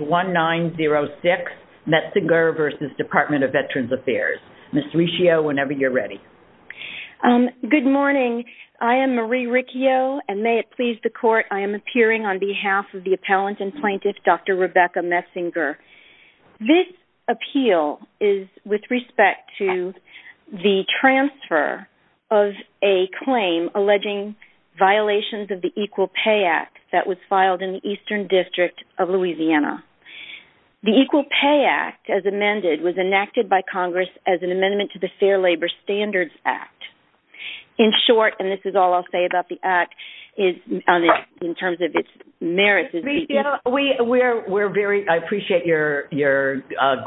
Ms. Riccio whenever you're ready. Good morning I am Marie Riccio and may it please the court I am appearing on behalf of the appellant and plaintiff Dr. Rebecca Metzinger. This appeal is with respect to the transfer of a claim alleging violations of the Equal Pay Act that was filed in the Eastern District of Louisiana. The Equal Pay Act as amended was enacted by Congress as an amendment to the Fair Labor Standards Act. In short and this is all I'll say about the act is in terms of its merits. We're very I appreciate you're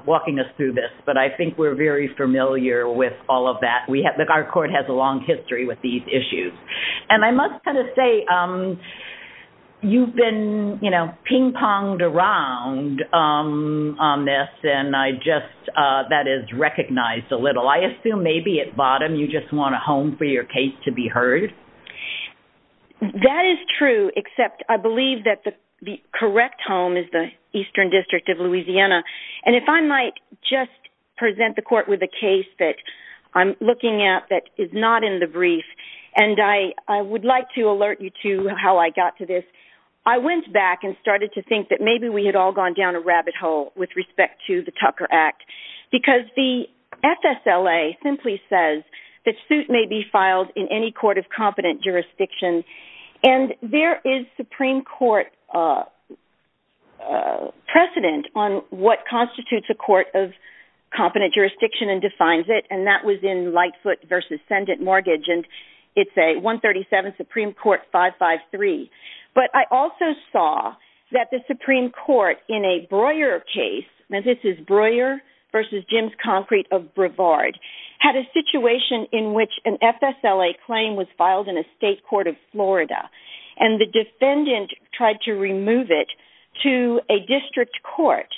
walking us through this but I think we're very familiar with all of that we have that our court has a long history with these issues and I must kind of say you've been you know ping-ponged around on this and I just that is recognized a little I assume maybe at bottom you just want a home for your case to be heard. That is true except I believe that the correct home is the Eastern District of Louisiana and if I might just present the court with a case that I'm looking at that is not in the brief and I would like to alert you to how I got to this I went back and started to think that maybe we had all gone down a rabbit hole with respect to the Tucker Act because the FSLA simply says that suit may be filed in any court of competent jurisdiction and there is Supreme Court precedent on what constitutes a court of competent jurisdiction and defines it and that was in Lightfoot versus Sendit Mortgage and it's a 137 Supreme Court 553 but I also saw that the Supreme Court in a Breuer case and this is Breuer versus Jim's Concrete of Brevard had a situation in which an FSLA claim was filed in a state court of Florida and the defendant tried to remove it to a district court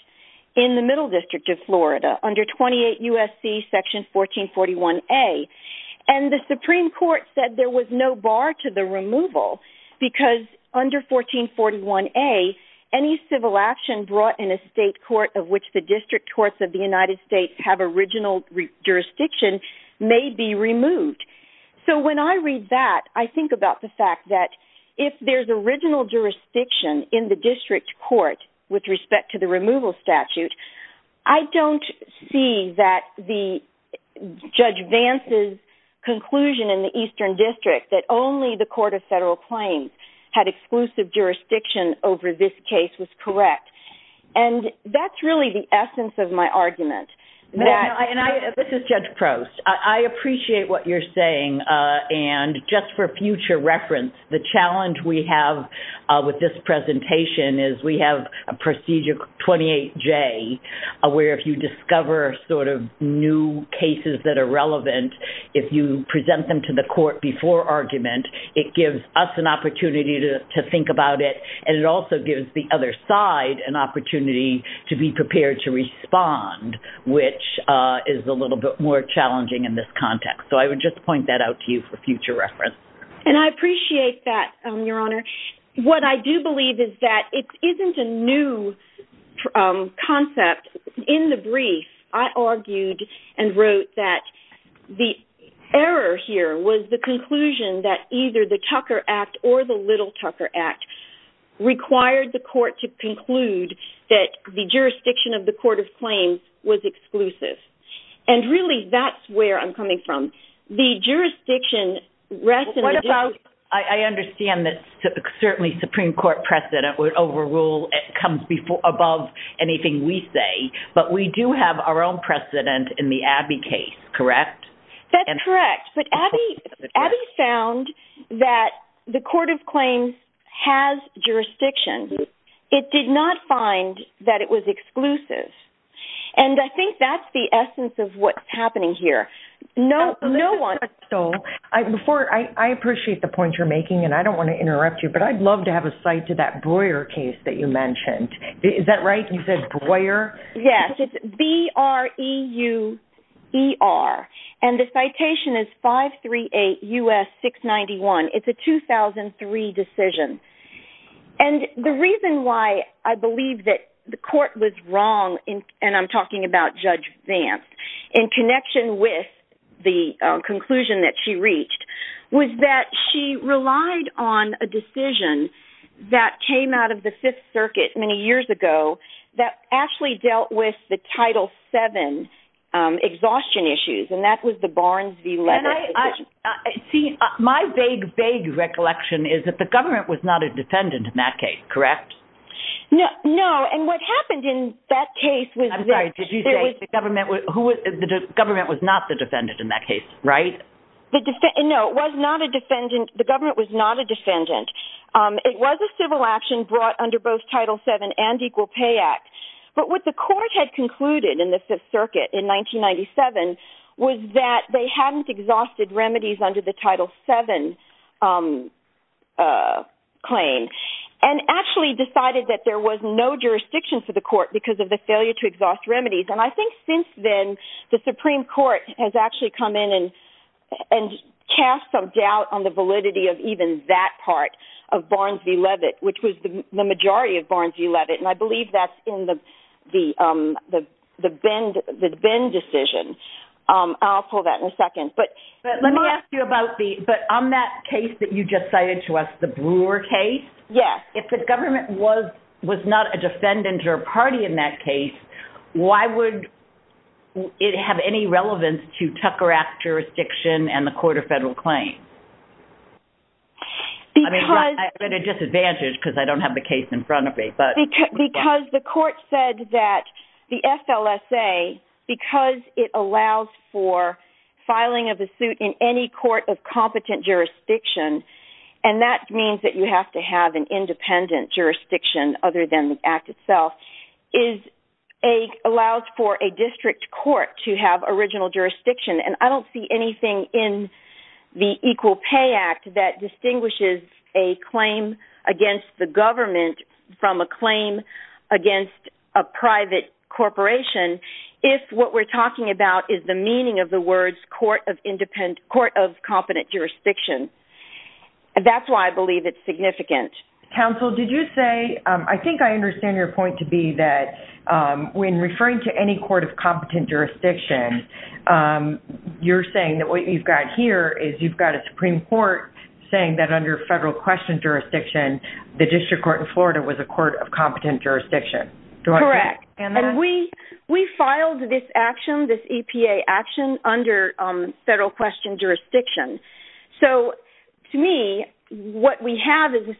in the Middle District of Florida under 28 U.S.C. section 1441-A and the Supreme Court said there was no bar to the removal because under 1441-A any civil action brought in a state court of which the district courts of the United States have original jurisdiction may be removed so when I read that I think about the fact that if there's original jurisdiction in the with respect to the removal statute I don't see that the Judge Vance's conclusion in the Eastern District that only the Court of Federal Claims had exclusive jurisdiction over this case was correct and that's really the essence of my argument. This is Judge Prost. I appreciate what you're saying and just for Procedure 28J where if you discover sort of new cases that are relevant if you present them to the court before argument it gives us an opportunity to think about it and it also gives the other side an opportunity to be prepared to respond which is a little bit more challenging in this context so I would just point that out to you for future reference. And I appreciate that Your What I do believe is that it isn't a new concept. In the brief I argued and wrote that the error here was the conclusion that either the Tucker Act or the Little Tucker Act required the court to conclude that the jurisdiction of the Court of Claims was exclusive and really that's where I'm coming from. The certainly Supreme Court precedent would overrule it comes before above anything we say but we do have our own precedent in the Abbey case, correct? That's correct but Abbey found that the Court of Claims has jurisdiction. It did not find that it was exclusive and I think that's the essence of what's happening here. No one... I appreciate the point you're making and I don't want to interrupt you but I'd love to have a cite to that Breuer case that you mentioned. Is that right? You said Breuer? Yes it's B-R-E-U-E-R and the citation is 538 U.S. 691. It's a 2003 decision and the reason why I believe that the court was wrong in and I'm talking about Judge Vance in connection with the conclusion that she relied on a decision that came out of the Fifth Circuit many years ago that actually dealt with the Title VII exhaustion issues and that was the Barnes v. Leavitt decision. See my vague vague recollection is that the government was not a defendant in that case, correct? No and what happened in that case was... I'm sorry did you say the government was not the defendant? It was a civil action brought under both Title VII and Equal Pay Act but what the court had concluded in the Fifth Circuit in 1997 was that they hadn't exhausted remedies under the Title VII claim and actually decided that there was no jurisdiction for the court because of the failure to exhaust remedies and I think since then the Supreme Court has actually come in and cast some doubt on the validity of even that part of Barnes v. Leavitt which was the majority of Barnes v. Leavitt and I believe that's in the Bend decision. I'll pull that in a second but let me ask you about on that case that you just cited to us, the Brewer case, if the government was not a defendant or party in that case, why would it have any relevance to Tucker Act jurisdiction and the Court of Federal Claims? Because... I'm at a disadvantage because I don't have the case in front of me but... Because the court said that the FLSA, because it allows for filing of a suit in any court of competent jurisdiction and that means that you have to have an independent jurisdiction other than the Act itself, allows for a district court to have original jurisdiction and I don't see anything in the Equal Pay Act that distinguishes a claim against the government from a claim against a private corporation if what we're talking about is the meaning of the words court of independent... court of competent jurisdiction. That's why I believe it's significant. Counsel, did you say... I think I understand your point to be that when referring to any court of you're saying that what you've got here is you've got a Supreme Court saying that under federal question jurisdiction the district court in Florida was a court of competent jurisdiction. Correct and we we filed this action, this EPA action under federal question jurisdiction so to me what we have is a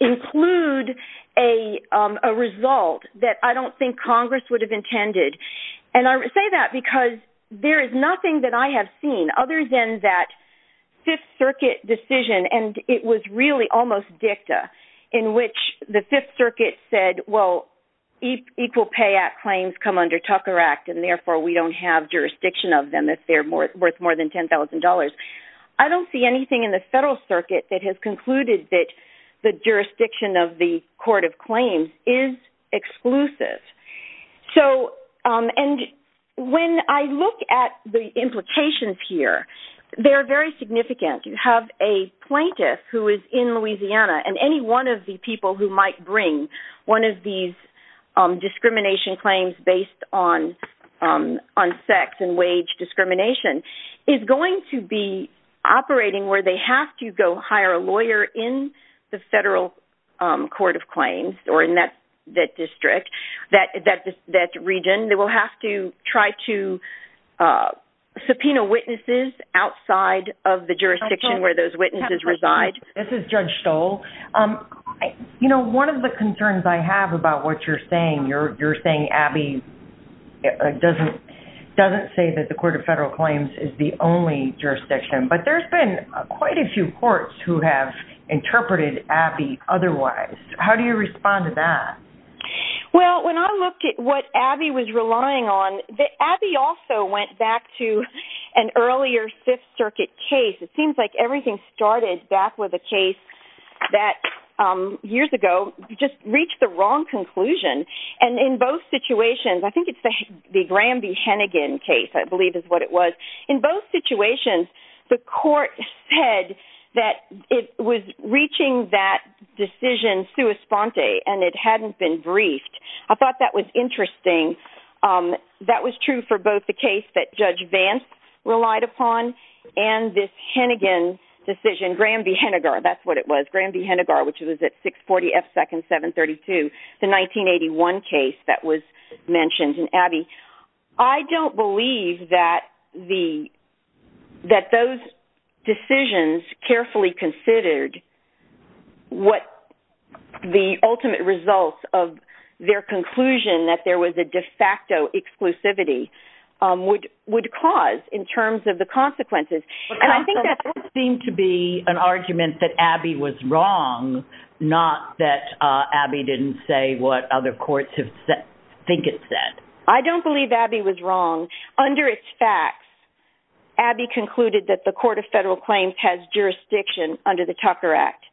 include a result that I don't think Congress would have intended and I would say that because there is nothing that I have seen other than that Fifth Circuit decision and it was really almost dicta in which the Fifth Circuit said well Equal Pay Act claims come under Tucker Act and therefore we don't have jurisdiction of them if they're worth more than $10,000. I don't see anything in the Federal Circuit that has concluded that the jurisdiction of the Court of Claims is exclusive. So and when I look at the implications here they're very significant. You have a plaintiff who is in Louisiana and any one of the people who might bring one of these discrimination claims based on on sex and wage discrimination is going to be operating where they have to go hire a lawyer in the Federal Court of Claims or in that that district that that that region they will have to try to subpoena witnesses outside of the jurisdiction where those witnesses reside. This is Judge Stoll. You know one of the concerns I have about what you're saying you're you're saying Abby doesn't doesn't say that the Court of Federal Claims is the only jurisdiction but there's been quite a few courts who have interpreted Abby otherwise. How do you respond to that? Well when I look at what Abby was relying on the Abby also went back to an earlier Fifth Circuit case. It seems like everything started back with a case that years ago just reached the wrong conclusion and in both situations I think it's the Graham v. Hennigan case I believe is what it was. In both situations the court said that it was reaching that decision sui sponte and it hadn't been briefed. I thought that was interesting. That was true for both the case that Judge Vance relied upon and this Hennigan decision Graham v. Hennigar that's what it was Graham v. Hennigar which was at 640 F seconds 732 the 1981 case that was mentioned in Abby. I don't believe that the that those decisions carefully considered what the ultimate results of their conclusion that there was a de facto exclusivity would would cause in terms of the consequences and I believe Abby was wrong not that Abby didn't say what other courts have said think it said. I don't believe Abby was wrong under its facts Abby concluded that the Court of Federal Claims has jurisdiction under the Tucker Act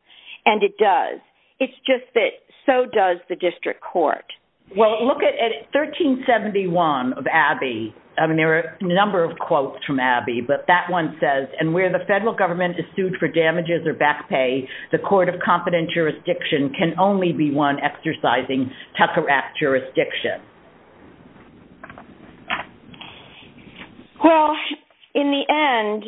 and it does it's just that so does the district court. Well look at 1371 of Abby I mean there were a number of quotes from Abby but that one says and where the federal government is sued for damages or back pay the Court of Competent Jurisdiction can only be one exercising Tucker Act jurisdiction. Well in the end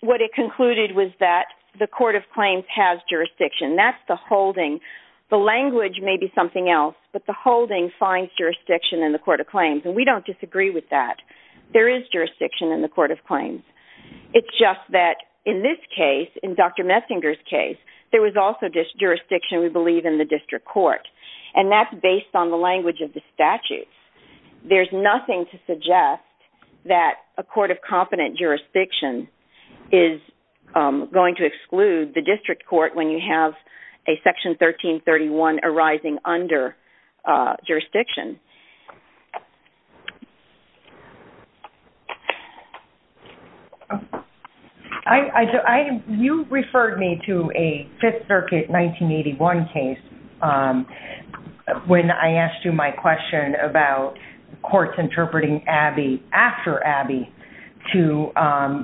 what it concluded was that the Court of Claims has jurisdiction that's the holding the language may be something else but the holding finds jurisdiction in the Court of Claims and we don't disagree with that there is jurisdiction in the Court of Claims it's just that in this case in Dr. Metzinger's case there was also this jurisdiction we believe in the district court and that's based on the language of the statutes there's nothing to suggest that a Court of Competent Jurisdiction is going to exclude the district court when you have a section 1331 arising under jurisdiction. I you referred me to a Fifth Circuit 1981 case when I asked you my question about courts interpreting Abby after Abby to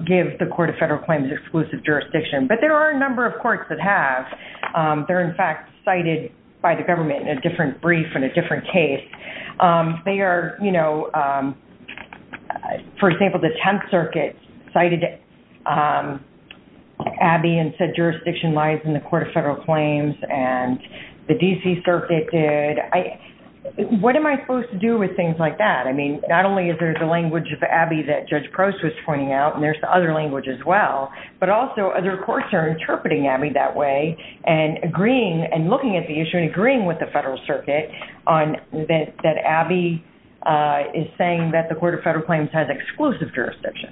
give the Court of Federal Claims exclusive jurisdiction but there are a number of courts that have they're in cited by the government in a different brief in a different case they are you know for example the Tenth Circuit cited Abby and said jurisdiction lies in the Court of Federal Claims and the DC Circuit did I what am I supposed to do with things like that I mean not only is there's a language of Abby that Judge Prost was pointing out and there's the other language as well but also other looking at the issue and agreeing with the Federal Circuit on that that Abby is saying that the Court of Federal Claims has exclusive jurisdiction.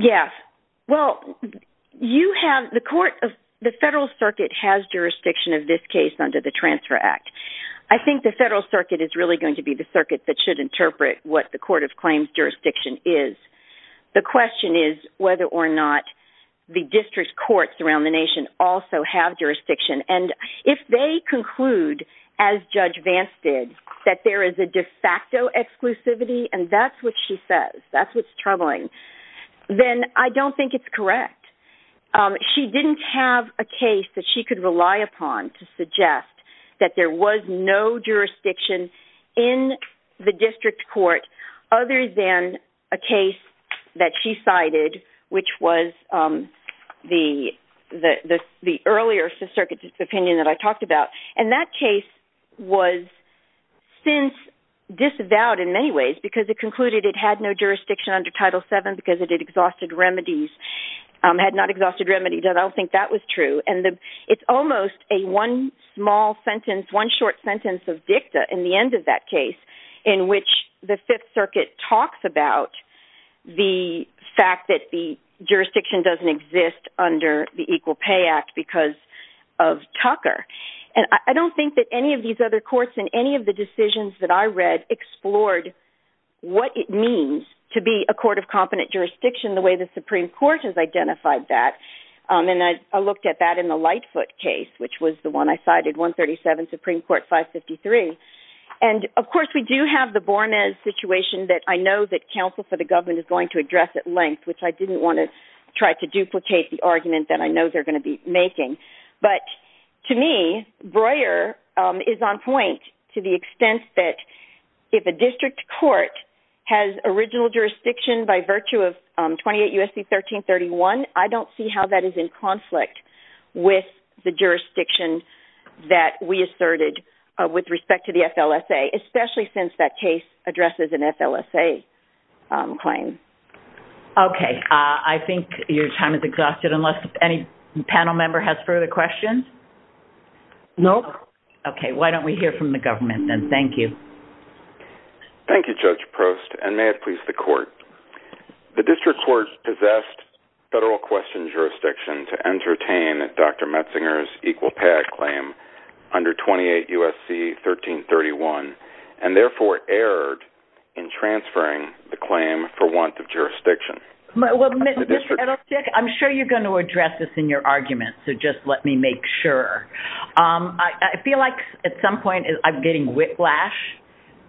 Yes well you have the Court of the Federal Circuit has jurisdiction of this case under the Transfer Act I think the Federal Circuit is really going to be the circuit that should interpret what the Court of Claims jurisdiction is the question is whether or not the district courts around the nation also have jurisdiction and if they conclude as Judge Vance did that there is a de facto exclusivity and that's what she says that's what's troubling then I don't think it's correct she didn't have a case that she could rely upon to suggest that there was no jurisdiction in the district court other than a case that she cited which was the earlier circuit opinion that I talked about and that case was since disavowed in many ways because it concluded it had no jurisdiction under Title 7 because it had exhausted remedies had not exhausted remedies and I don't think that was true and it's almost a one small sentence one short sentence of dicta in the end of that case in which the Fifth Circuit talks about the fact that the jurisdiction doesn't exist under the Equal Pay Act because of Tucker and I don't think that any of these other courts in any of the decisions that I read explored what it means to be a court of competent jurisdiction the way the Supreme Court has identified that and I looked at that in the Lightfoot case which was the one I cited 137 Supreme Court 553 and of course we do have the Bournemouth situation that I know that counsel for the government is going to address at length which I didn't want to try to duplicate the argument that I know they're going to be making but to me Breuer is on point to the extent that if a district court has original jurisdiction by virtue of 28 U.S.C. 1331 I don't see how that is in with respect to the FLSA especially since that case addresses an FLSA claim. Okay I think your time is exhausted unless any panel member has further questions. Nope. Okay why don't we hear from the government then thank you. Thank you Judge Prost and may it please the court. The district court possessed federal question jurisdiction to entertain Dr. Metzinger's Equal Pay Act claim under 28 U.S.C. 1331 and therefore erred in transferring the claim for want of jurisdiction. I'm sure you're going to address this in your argument so just let me make sure. I feel like at some point I'm getting whiplash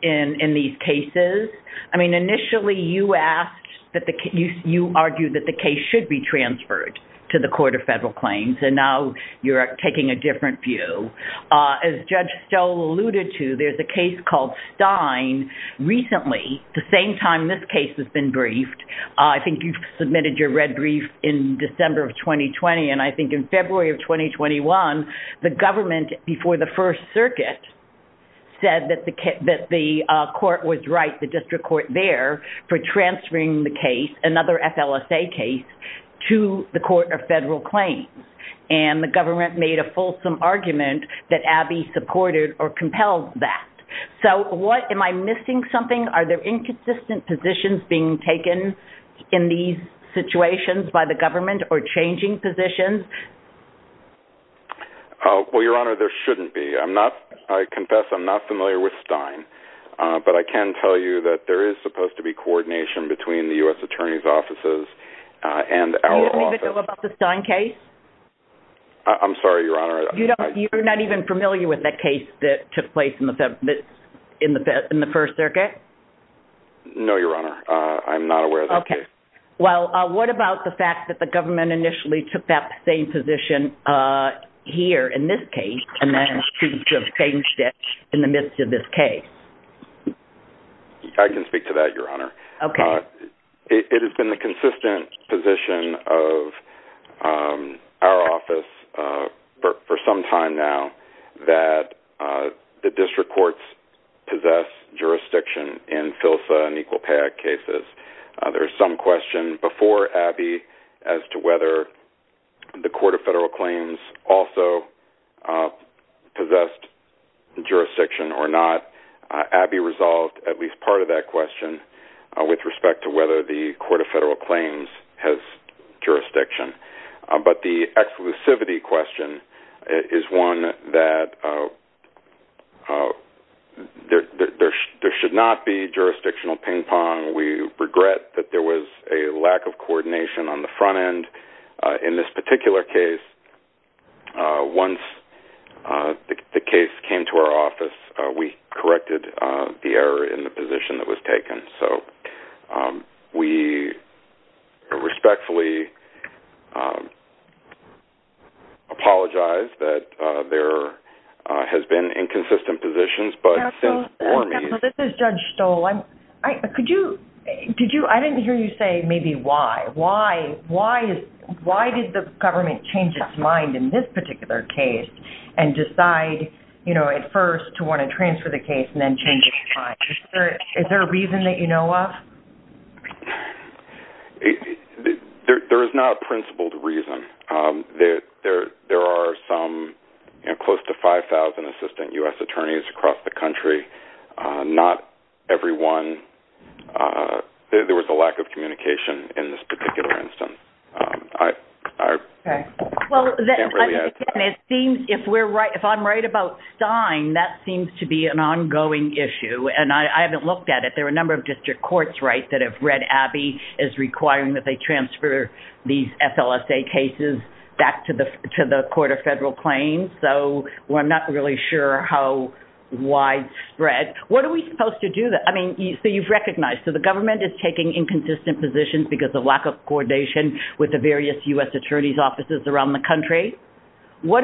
in these cases. I mean initially you asked that the case you argued that the case should be transferred to the Court of Federal Claims and now you're taking a different view. As Judge Stoll alluded to there's a case called Stein recently the same time this case has been briefed. I think you've submitted your red brief in December of 2020 and I think in February of 2021 the government before the First Circuit said that the court was right the district court there for transferring the case another FLSA case to the Court of Federal Claims and the government made a fulsome argument that Abby supported or compelled that. So what am I missing something are there inconsistent positions being taken in these situations by the government or changing positions? Well your honor there shouldn't be I'm not I confess I'm not familiar with Stein but I can tell you that there is supposed to be I'm sorry your honor. You're not even familiar with that case that took place in the first circuit? No your honor I'm not aware of that case. Well what about the fact that the government initially took that same position here in this case and then changed it in the midst of this case? I can speak to that your honor. Okay. It has been the consistent position of our office for some time now that the district courts possess jurisdiction in FLSA and Equal Pay Act cases. There's some question before Abby as to whether the Court of Federal Claims also possessed jurisdiction or not. Abby resolved at least part of that question with respect to whether the Court of Exclusivity question is one that there should not be jurisdictional ping-pong. We regret that there was a lack of coordination on the front end in this particular case. Once the case came to our office we corrected the error in position that was taken. So we respectfully apologize that there has been inconsistent positions. This is Judge Stoll. I didn't hear you say maybe why. Why did the government change its mind in this particular case and decide you know at first to want to transfer the case and is there a reason that you know of? There is not a principled reason. There are some close to 5,000 assistant U.S. attorneys across the country. Not every one. There was a lack of communication in this particular instance. If I'm right about Stein, that seems to be an ongoing issue and I haven't looked at it. There are a number of district courts that have read Abby as requiring that they transfer these FLSA cases back to the Court of Federal Claims. So I'm not really sure how widespread. What are we supposed to do? So you've recognized that the government is taking inconsistent positions because the lack of coordination with the various U.S. attorney's offices around the country. No,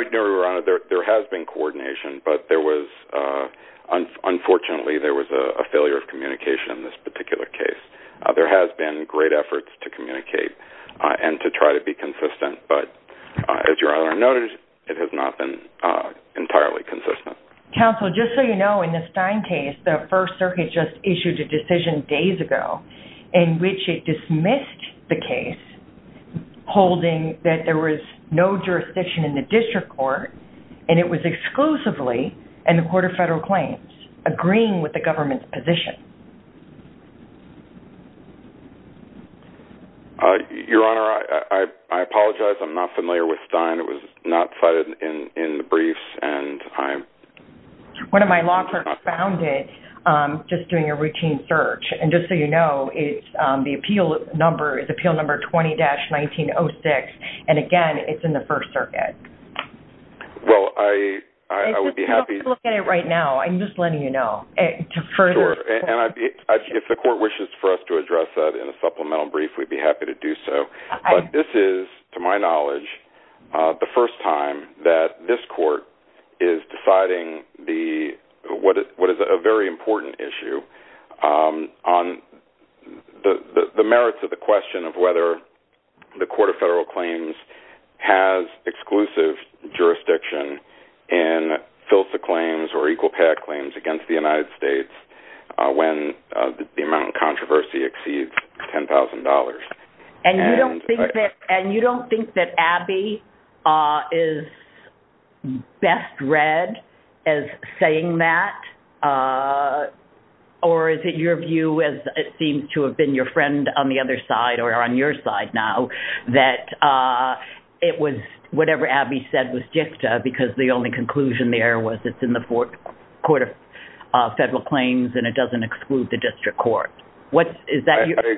there has been coordination, but there was unfortunately there was a failure of communication in this particular case. There has been great efforts to communicate and to try to be consistent, but as your Honor noted, it has not been entirely consistent. Counsel, just so you know, in the Stein case, the First Circuit just issued a decision days ago in which it dismissed the case holding that there was no jurisdiction in the district court and it was exclusively in the Court of Federal Claims agreeing with the government's position. Your Honor, I apologize. I'm not familiar with Stein. It was not cited in the briefs and I'm... One of my law clerks found it just doing a routine search and just so you know, the appeal number is Appeal Number 20-1906 and again, it's in the First Circuit. Well, I would be happy to look at it right now. I'm just letting you know. If the court wishes for us to address that in a supplemental brief, we'd be happy to do so, but this is, to my knowledge, the first time that this court is deciding what is a very important issue on the merits of the question of whether the Court of Federal Claims has exclusive jurisdiction in FILSA claims or Equal Pay Act claims against the United States when the amount of controversy exceeds $10,000. And you don't think that Abby is best read as saying that or is it your view as it seems to have been your friend on the other side or on your side now that it was whatever Abby said was jifta because the only conclusion there was it's in the Court of Federal Claims and it doesn't exclude the District Court. What is that? I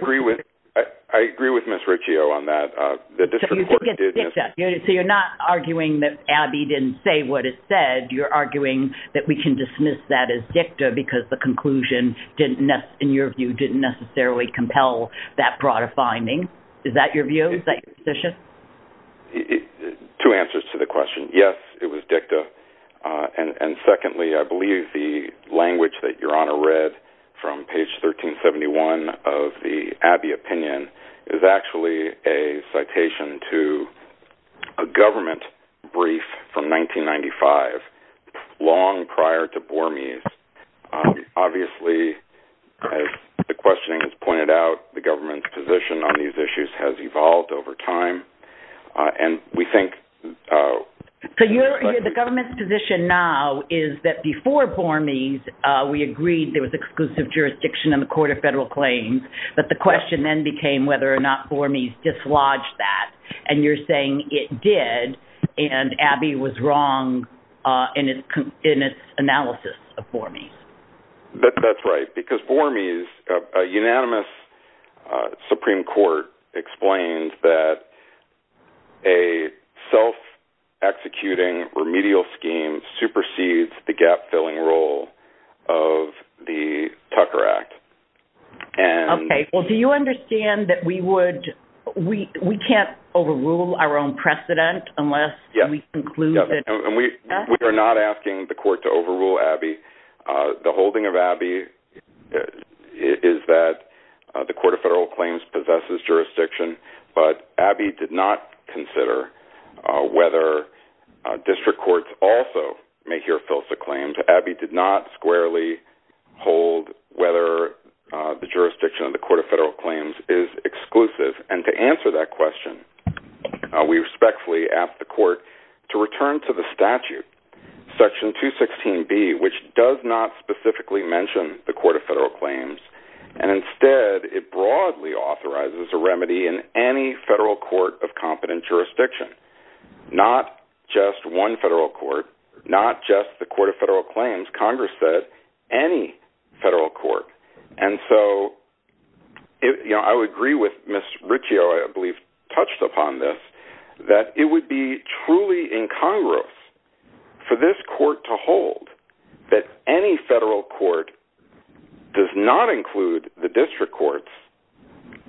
agree with Ms. Riccio on that. So you're not arguing that Abby didn't say what it said, you're arguing that we can dismiss that as jifta because the conclusion didn't, in your view, didn't necessarily compel that broader finding. Is that your view? Is that your position? Two answers to the question. Yes, it was jifta. And secondly, I believe the language that Your Honor read from page 1371 of the Abby opinion is actually a citation to a government brief from 1995, long prior to Bormes. Obviously, as the questioning has pointed out, the government's position on these issues has evolved over time and we think... So the government's position now is that before Bormes, we agreed there was exclusive jurisdiction in the Court of whether or not Bormes dislodged that, and you're saying it did and Abby was wrong in its analysis of Bormes. That's right, because Bormes, a unanimous Supreme Court, explained that a self-executing remedial scheme supersedes the gap-filling role of the Tucker Act. Okay, well, do you understand that we would... we can't overrule our own precedent unless we conclude that... We are not asking the Court to overrule Abby. The holding of Abby is that the Court of Federal Claims possesses jurisdiction, but Abby did not consider whether district courts also make your filsa claims. Abby did not squarely hold whether the jurisdiction of the Court of Federal Claims is exclusive, and to answer that question, we respectfully ask the Court to return to the statute, Section 216B, which does not specifically mention the Court of Federal Claims, and instead, it broadly authorizes a remedy in any federal court of competent jurisdiction, not just one federal court, not just the Court of Federal Claims. Congress said any federal court, and so, you know, I would agree with Ms. Riccio, I believe, touched upon this, that it would be truly incongruous for this court to hold that any federal court does not include the district courts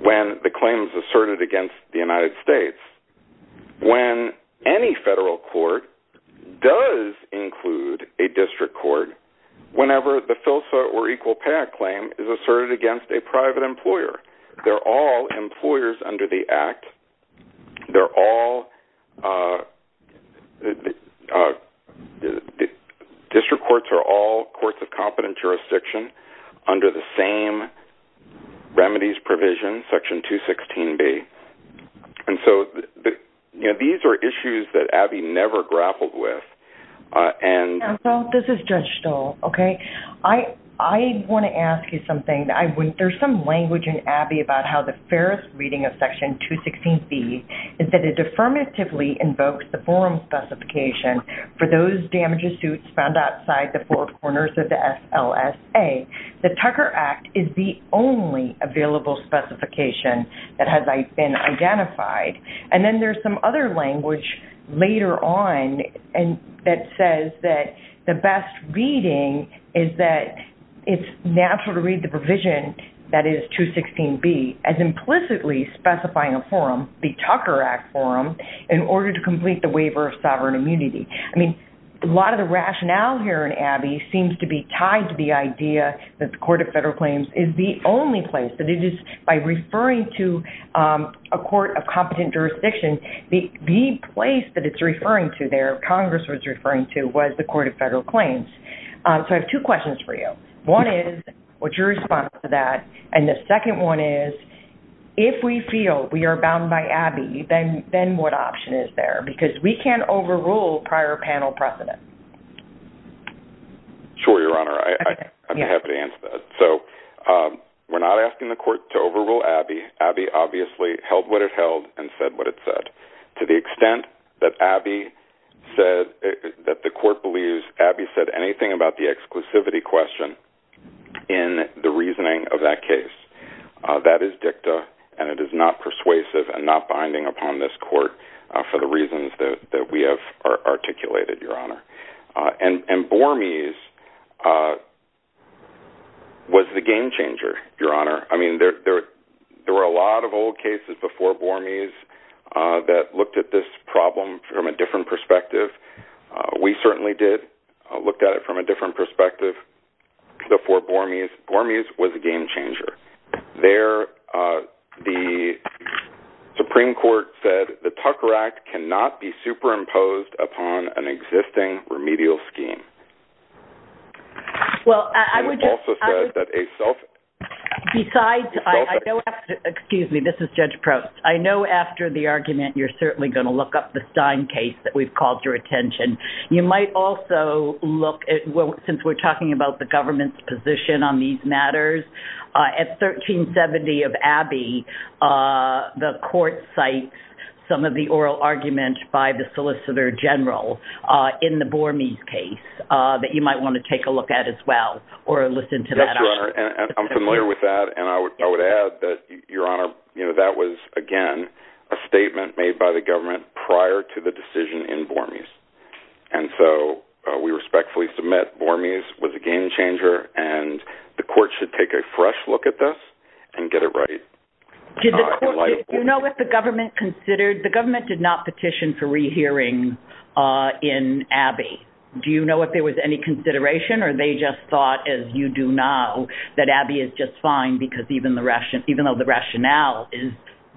when the claim is asserted against the United States, when any federal court does include a district court whenever the filsa or equal pay claim is asserted against a private employer. They're all employers under the Act. They're all... district courts are all courts of competent jurisdiction under the same remedies provision, Section 216B, and so, you know, these are issues that Abby never grappled with, and... Counsel, this is Judge Stoll, okay? I want to ask you something. There's some language in Abby about how the fairest reading of Section 216B is that it affirmatively invokes the forum specification for those damages suits found outside the four corners of the LSA. The Tucker Act is the only available specification that has been identified, and then there's some other language later on and that says that the best reading is that it's natural to read the provision that is 216B as implicitly specifying a forum, the Tucker Act forum, in order to complete the waiver of sovereign immunity. I mean, a lot of the rationale here in Abby seems to be tied to the idea that the Court of Federal Claims is the only place that it is, by referring to a court of competent jurisdiction, the place that it's referring to there, Congress was referring to, was the Court of Federal Claims. So I have two questions for you. One is, what's your response to that? And the second one is, if we feel we are bound by Abby, then what option is there? Because we can't overrule prior panel precedent. Sure, Your Honor, I'm happy to answer that. So we're not asking the court to overrule Abby. Abby obviously held what it held and said what it said. To the extent that Abby said, that the court believes Abby said anything about the exclusivity question in the reasoning of that case, that is dicta and it is not persuasive and not the reasons that we have articulated, Your Honor. And Bormes was the game changer, Your Honor. I mean, there were a lot of old cases before Bormes that looked at this problem from a different perspective. We certainly did look at it from a different perspective before Bormes. Bormes was a game changer. I know after the argument, you're certainly going to look up the Stein case that we've called your attention. You might also look at, since we're talking about the government's position on these matters, at 1370 of Abby, the court cites some of the oral arguments by the Solicitor General in the Bormes case that you might want to take a look at as well or listen to that. I'm familiar with that and I would add that, Your Honor, you know, that was again a statement made by the government prior to the decision in Bormes. And so we respectfully submit Bormes was a game changer and the court should take a fresh look at this and get it right. Do you know what the government considered? The government did not petition for rehearing in Abby. Do you know if there was any consideration or they just thought, as you do now, that Abby is just fine because even the rationale is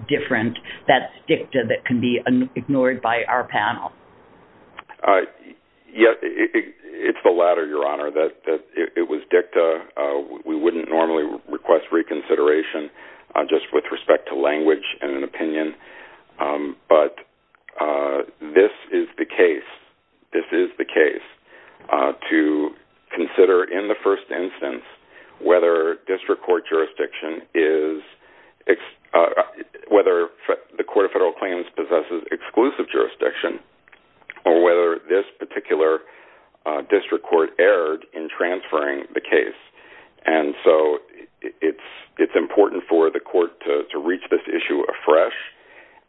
different. That's dicta that can be ignored by our panel. Yes, it's the latter, Your Honor. It was dicta. We wouldn't normally request reconsideration just with respect to language and an opinion, but this is the case. This is the case to consider in the first instance whether district court jurisdiction is, whether the Court of Federal Claims possesses exclusive jurisdiction or whether this particular district court erred in transferring the case. And so it's important for the court to reach this issue afresh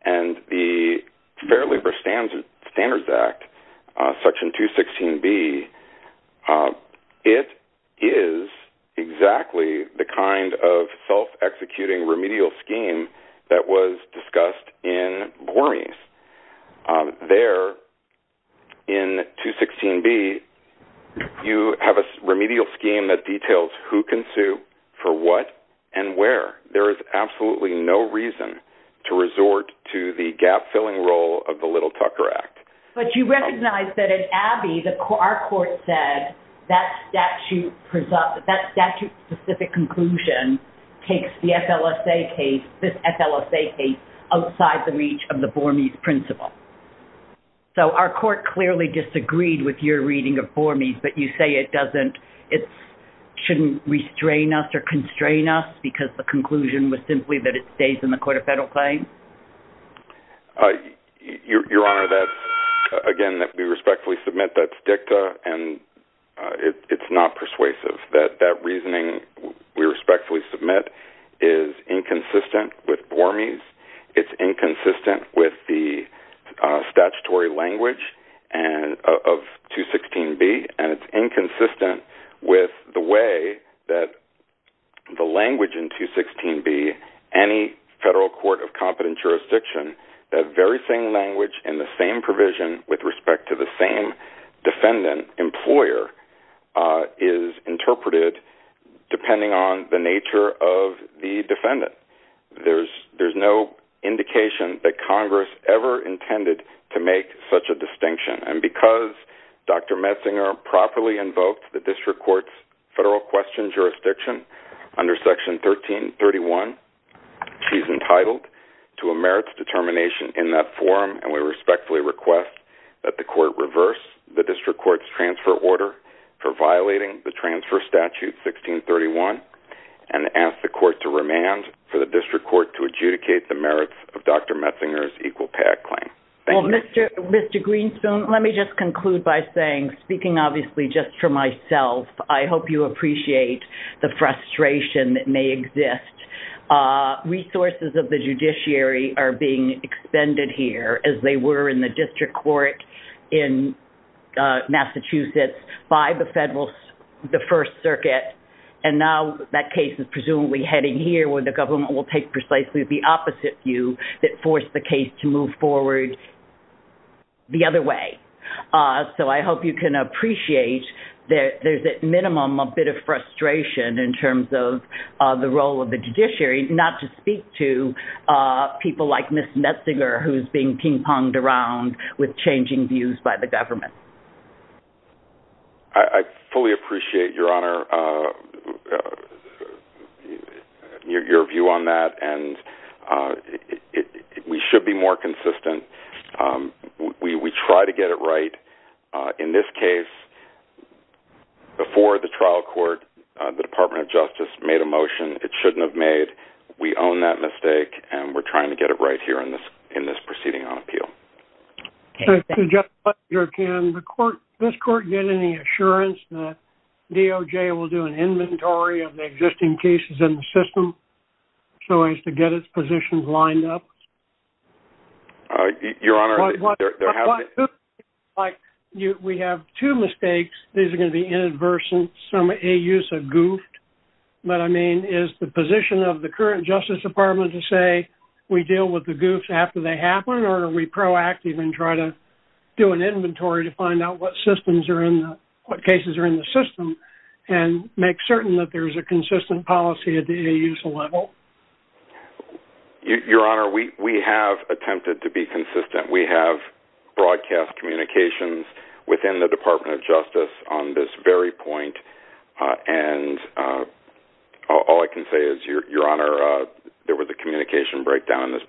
and the Fair Labor Standards Act, Section 216B, it is exactly the kind of self-executing remedial scheme that was you have a remedial scheme that details who can sue for what and where. There is absolutely no reason to resort to the gap-filling role of the Little Tucker Act. But you recognize that in Abby, our court said that statute-specific conclusion takes the FLSA case, this FLSA case, outside the reach of the reading of BORMES, but you say it doesn't, it shouldn't restrain us or constrain us because the conclusion was simply that it stays in the Court of Federal Claims? Your Honor, that's, again, that we respectfully submit that's dicta and it's not persuasive. That reasoning we respectfully submit is inconsistent with BORMES. It's inconsistent with the statutory language of 216B and it's inconsistent with the way that the language in 216B, any federal court of competent jurisdiction, that very same language in the same provision with respect to the same defendant employer is interpreted depending on the nature of the defendant. There's no indication that And because Dr. Metzinger properly invoked the district court's federal question jurisdiction under section 1331, she's entitled to a merits determination in that forum and we respectfully request that the court reverse the district court's transfer order for violating the transfer statute 1631 and ask the court to remand for the district court to adjudicate the merits of Dr. Metzinger's equal PAC claim. Thank you. Mr. Greenspoon, let me just conclude by saying, speaking obviously just for myself, I hope you appreciate the frustration that may exist. Resources of the judiciary are being expended here as they were in the district court in Massachusetts by the first circuit and now that case is presumably heading here where the government will take precisely the opposite view that forced the case to move forward the other way. So I hope you can appreciate that there's at minimum a bit of frustration in terms of the role of the judiciary not to speak to people like Ms. Metzinger who's being ping-ponged around with changing views by the and we should be more consistent. We try to get it right. In this case, before the trial court, the Department of Justice made a motion it shouldn't have made. We own that mistake and we're trying to get it right here in this proceeding on appeal. Mr. Metzinger, can this court get any assurance that DOJ will do an to get its positions lined up? Your Honor, we have two mistakes. These are going to be inadvertent. Some AUs have goofed. What I mean is the position of the current Justice Department to say we deal with the goofs after they happen or are we proactive and try to do an inventory to find out what systems are in the, what cases are in the system and make certain that there's a consistent policy at the AUs level? Your Honor, we have attempted to be consistent. We have broadcast communications within the Department of Justice on this very point and all I can say is, Your Honor, there was a communication breakdown in this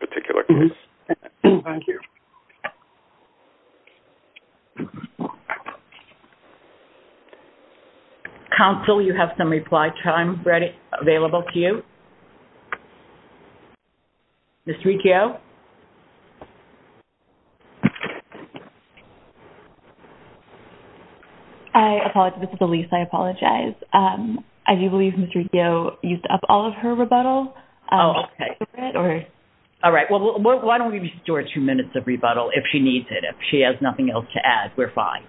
case. Ms. Riccio? I apologize. This is Lisa. I apologize. I do believe Ms. Riccio used up all of her rebuttal. Oh, okay. All right. Well, why don't we restore two minutes of rebuttal if she needs it, if she has nothing else to add, we're fine.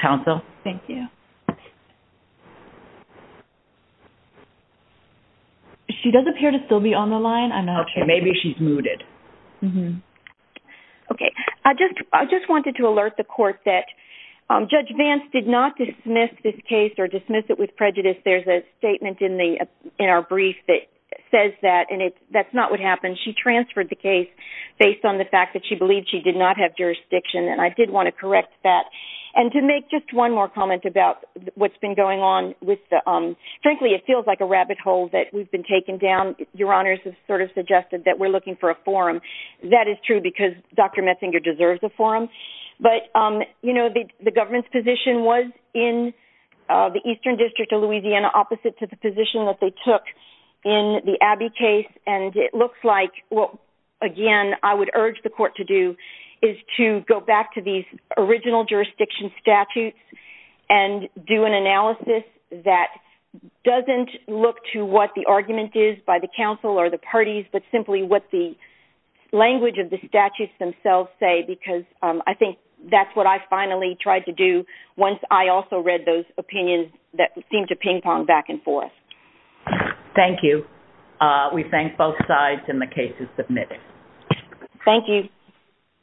Counsel? Thank you. She does appear to still be on the line. I'm not sure. Okay, maybe she's muted. Mm-hmm. Okay, I just, I just wanted to alert the court that Judge Vance did not dismiss this case or dismiss it with prejudice. There's a statement in the, in our brief that says that and it's, that's not what happened. She transferred the case based on the fact that she believed she did not have jurisdiction and I did want to correct that. And to make just one more comment about what's been going on with the, um, frankly it feels like a rabbit hole that we've been taking down. Your Honors have sort of suggested that we're looking for a forum. That is true because Dr. Metzinger deserves a forum. But, um, you know, the government's position was in the Eastern District of Louisiana opposite to the position that they took in the Abbey case and it looks like what, again, I would urge the court to do is to go back to these original jurisdiction statutes and do an analysis that doesn't look to what the argument is by the council or the parties but simply what the language of the statutes themselves say because I think that's what I finally tried to do once I also read those opinions that seemed to ping-pong back and forth. Thank you. We thank both sides and the case is adjourned.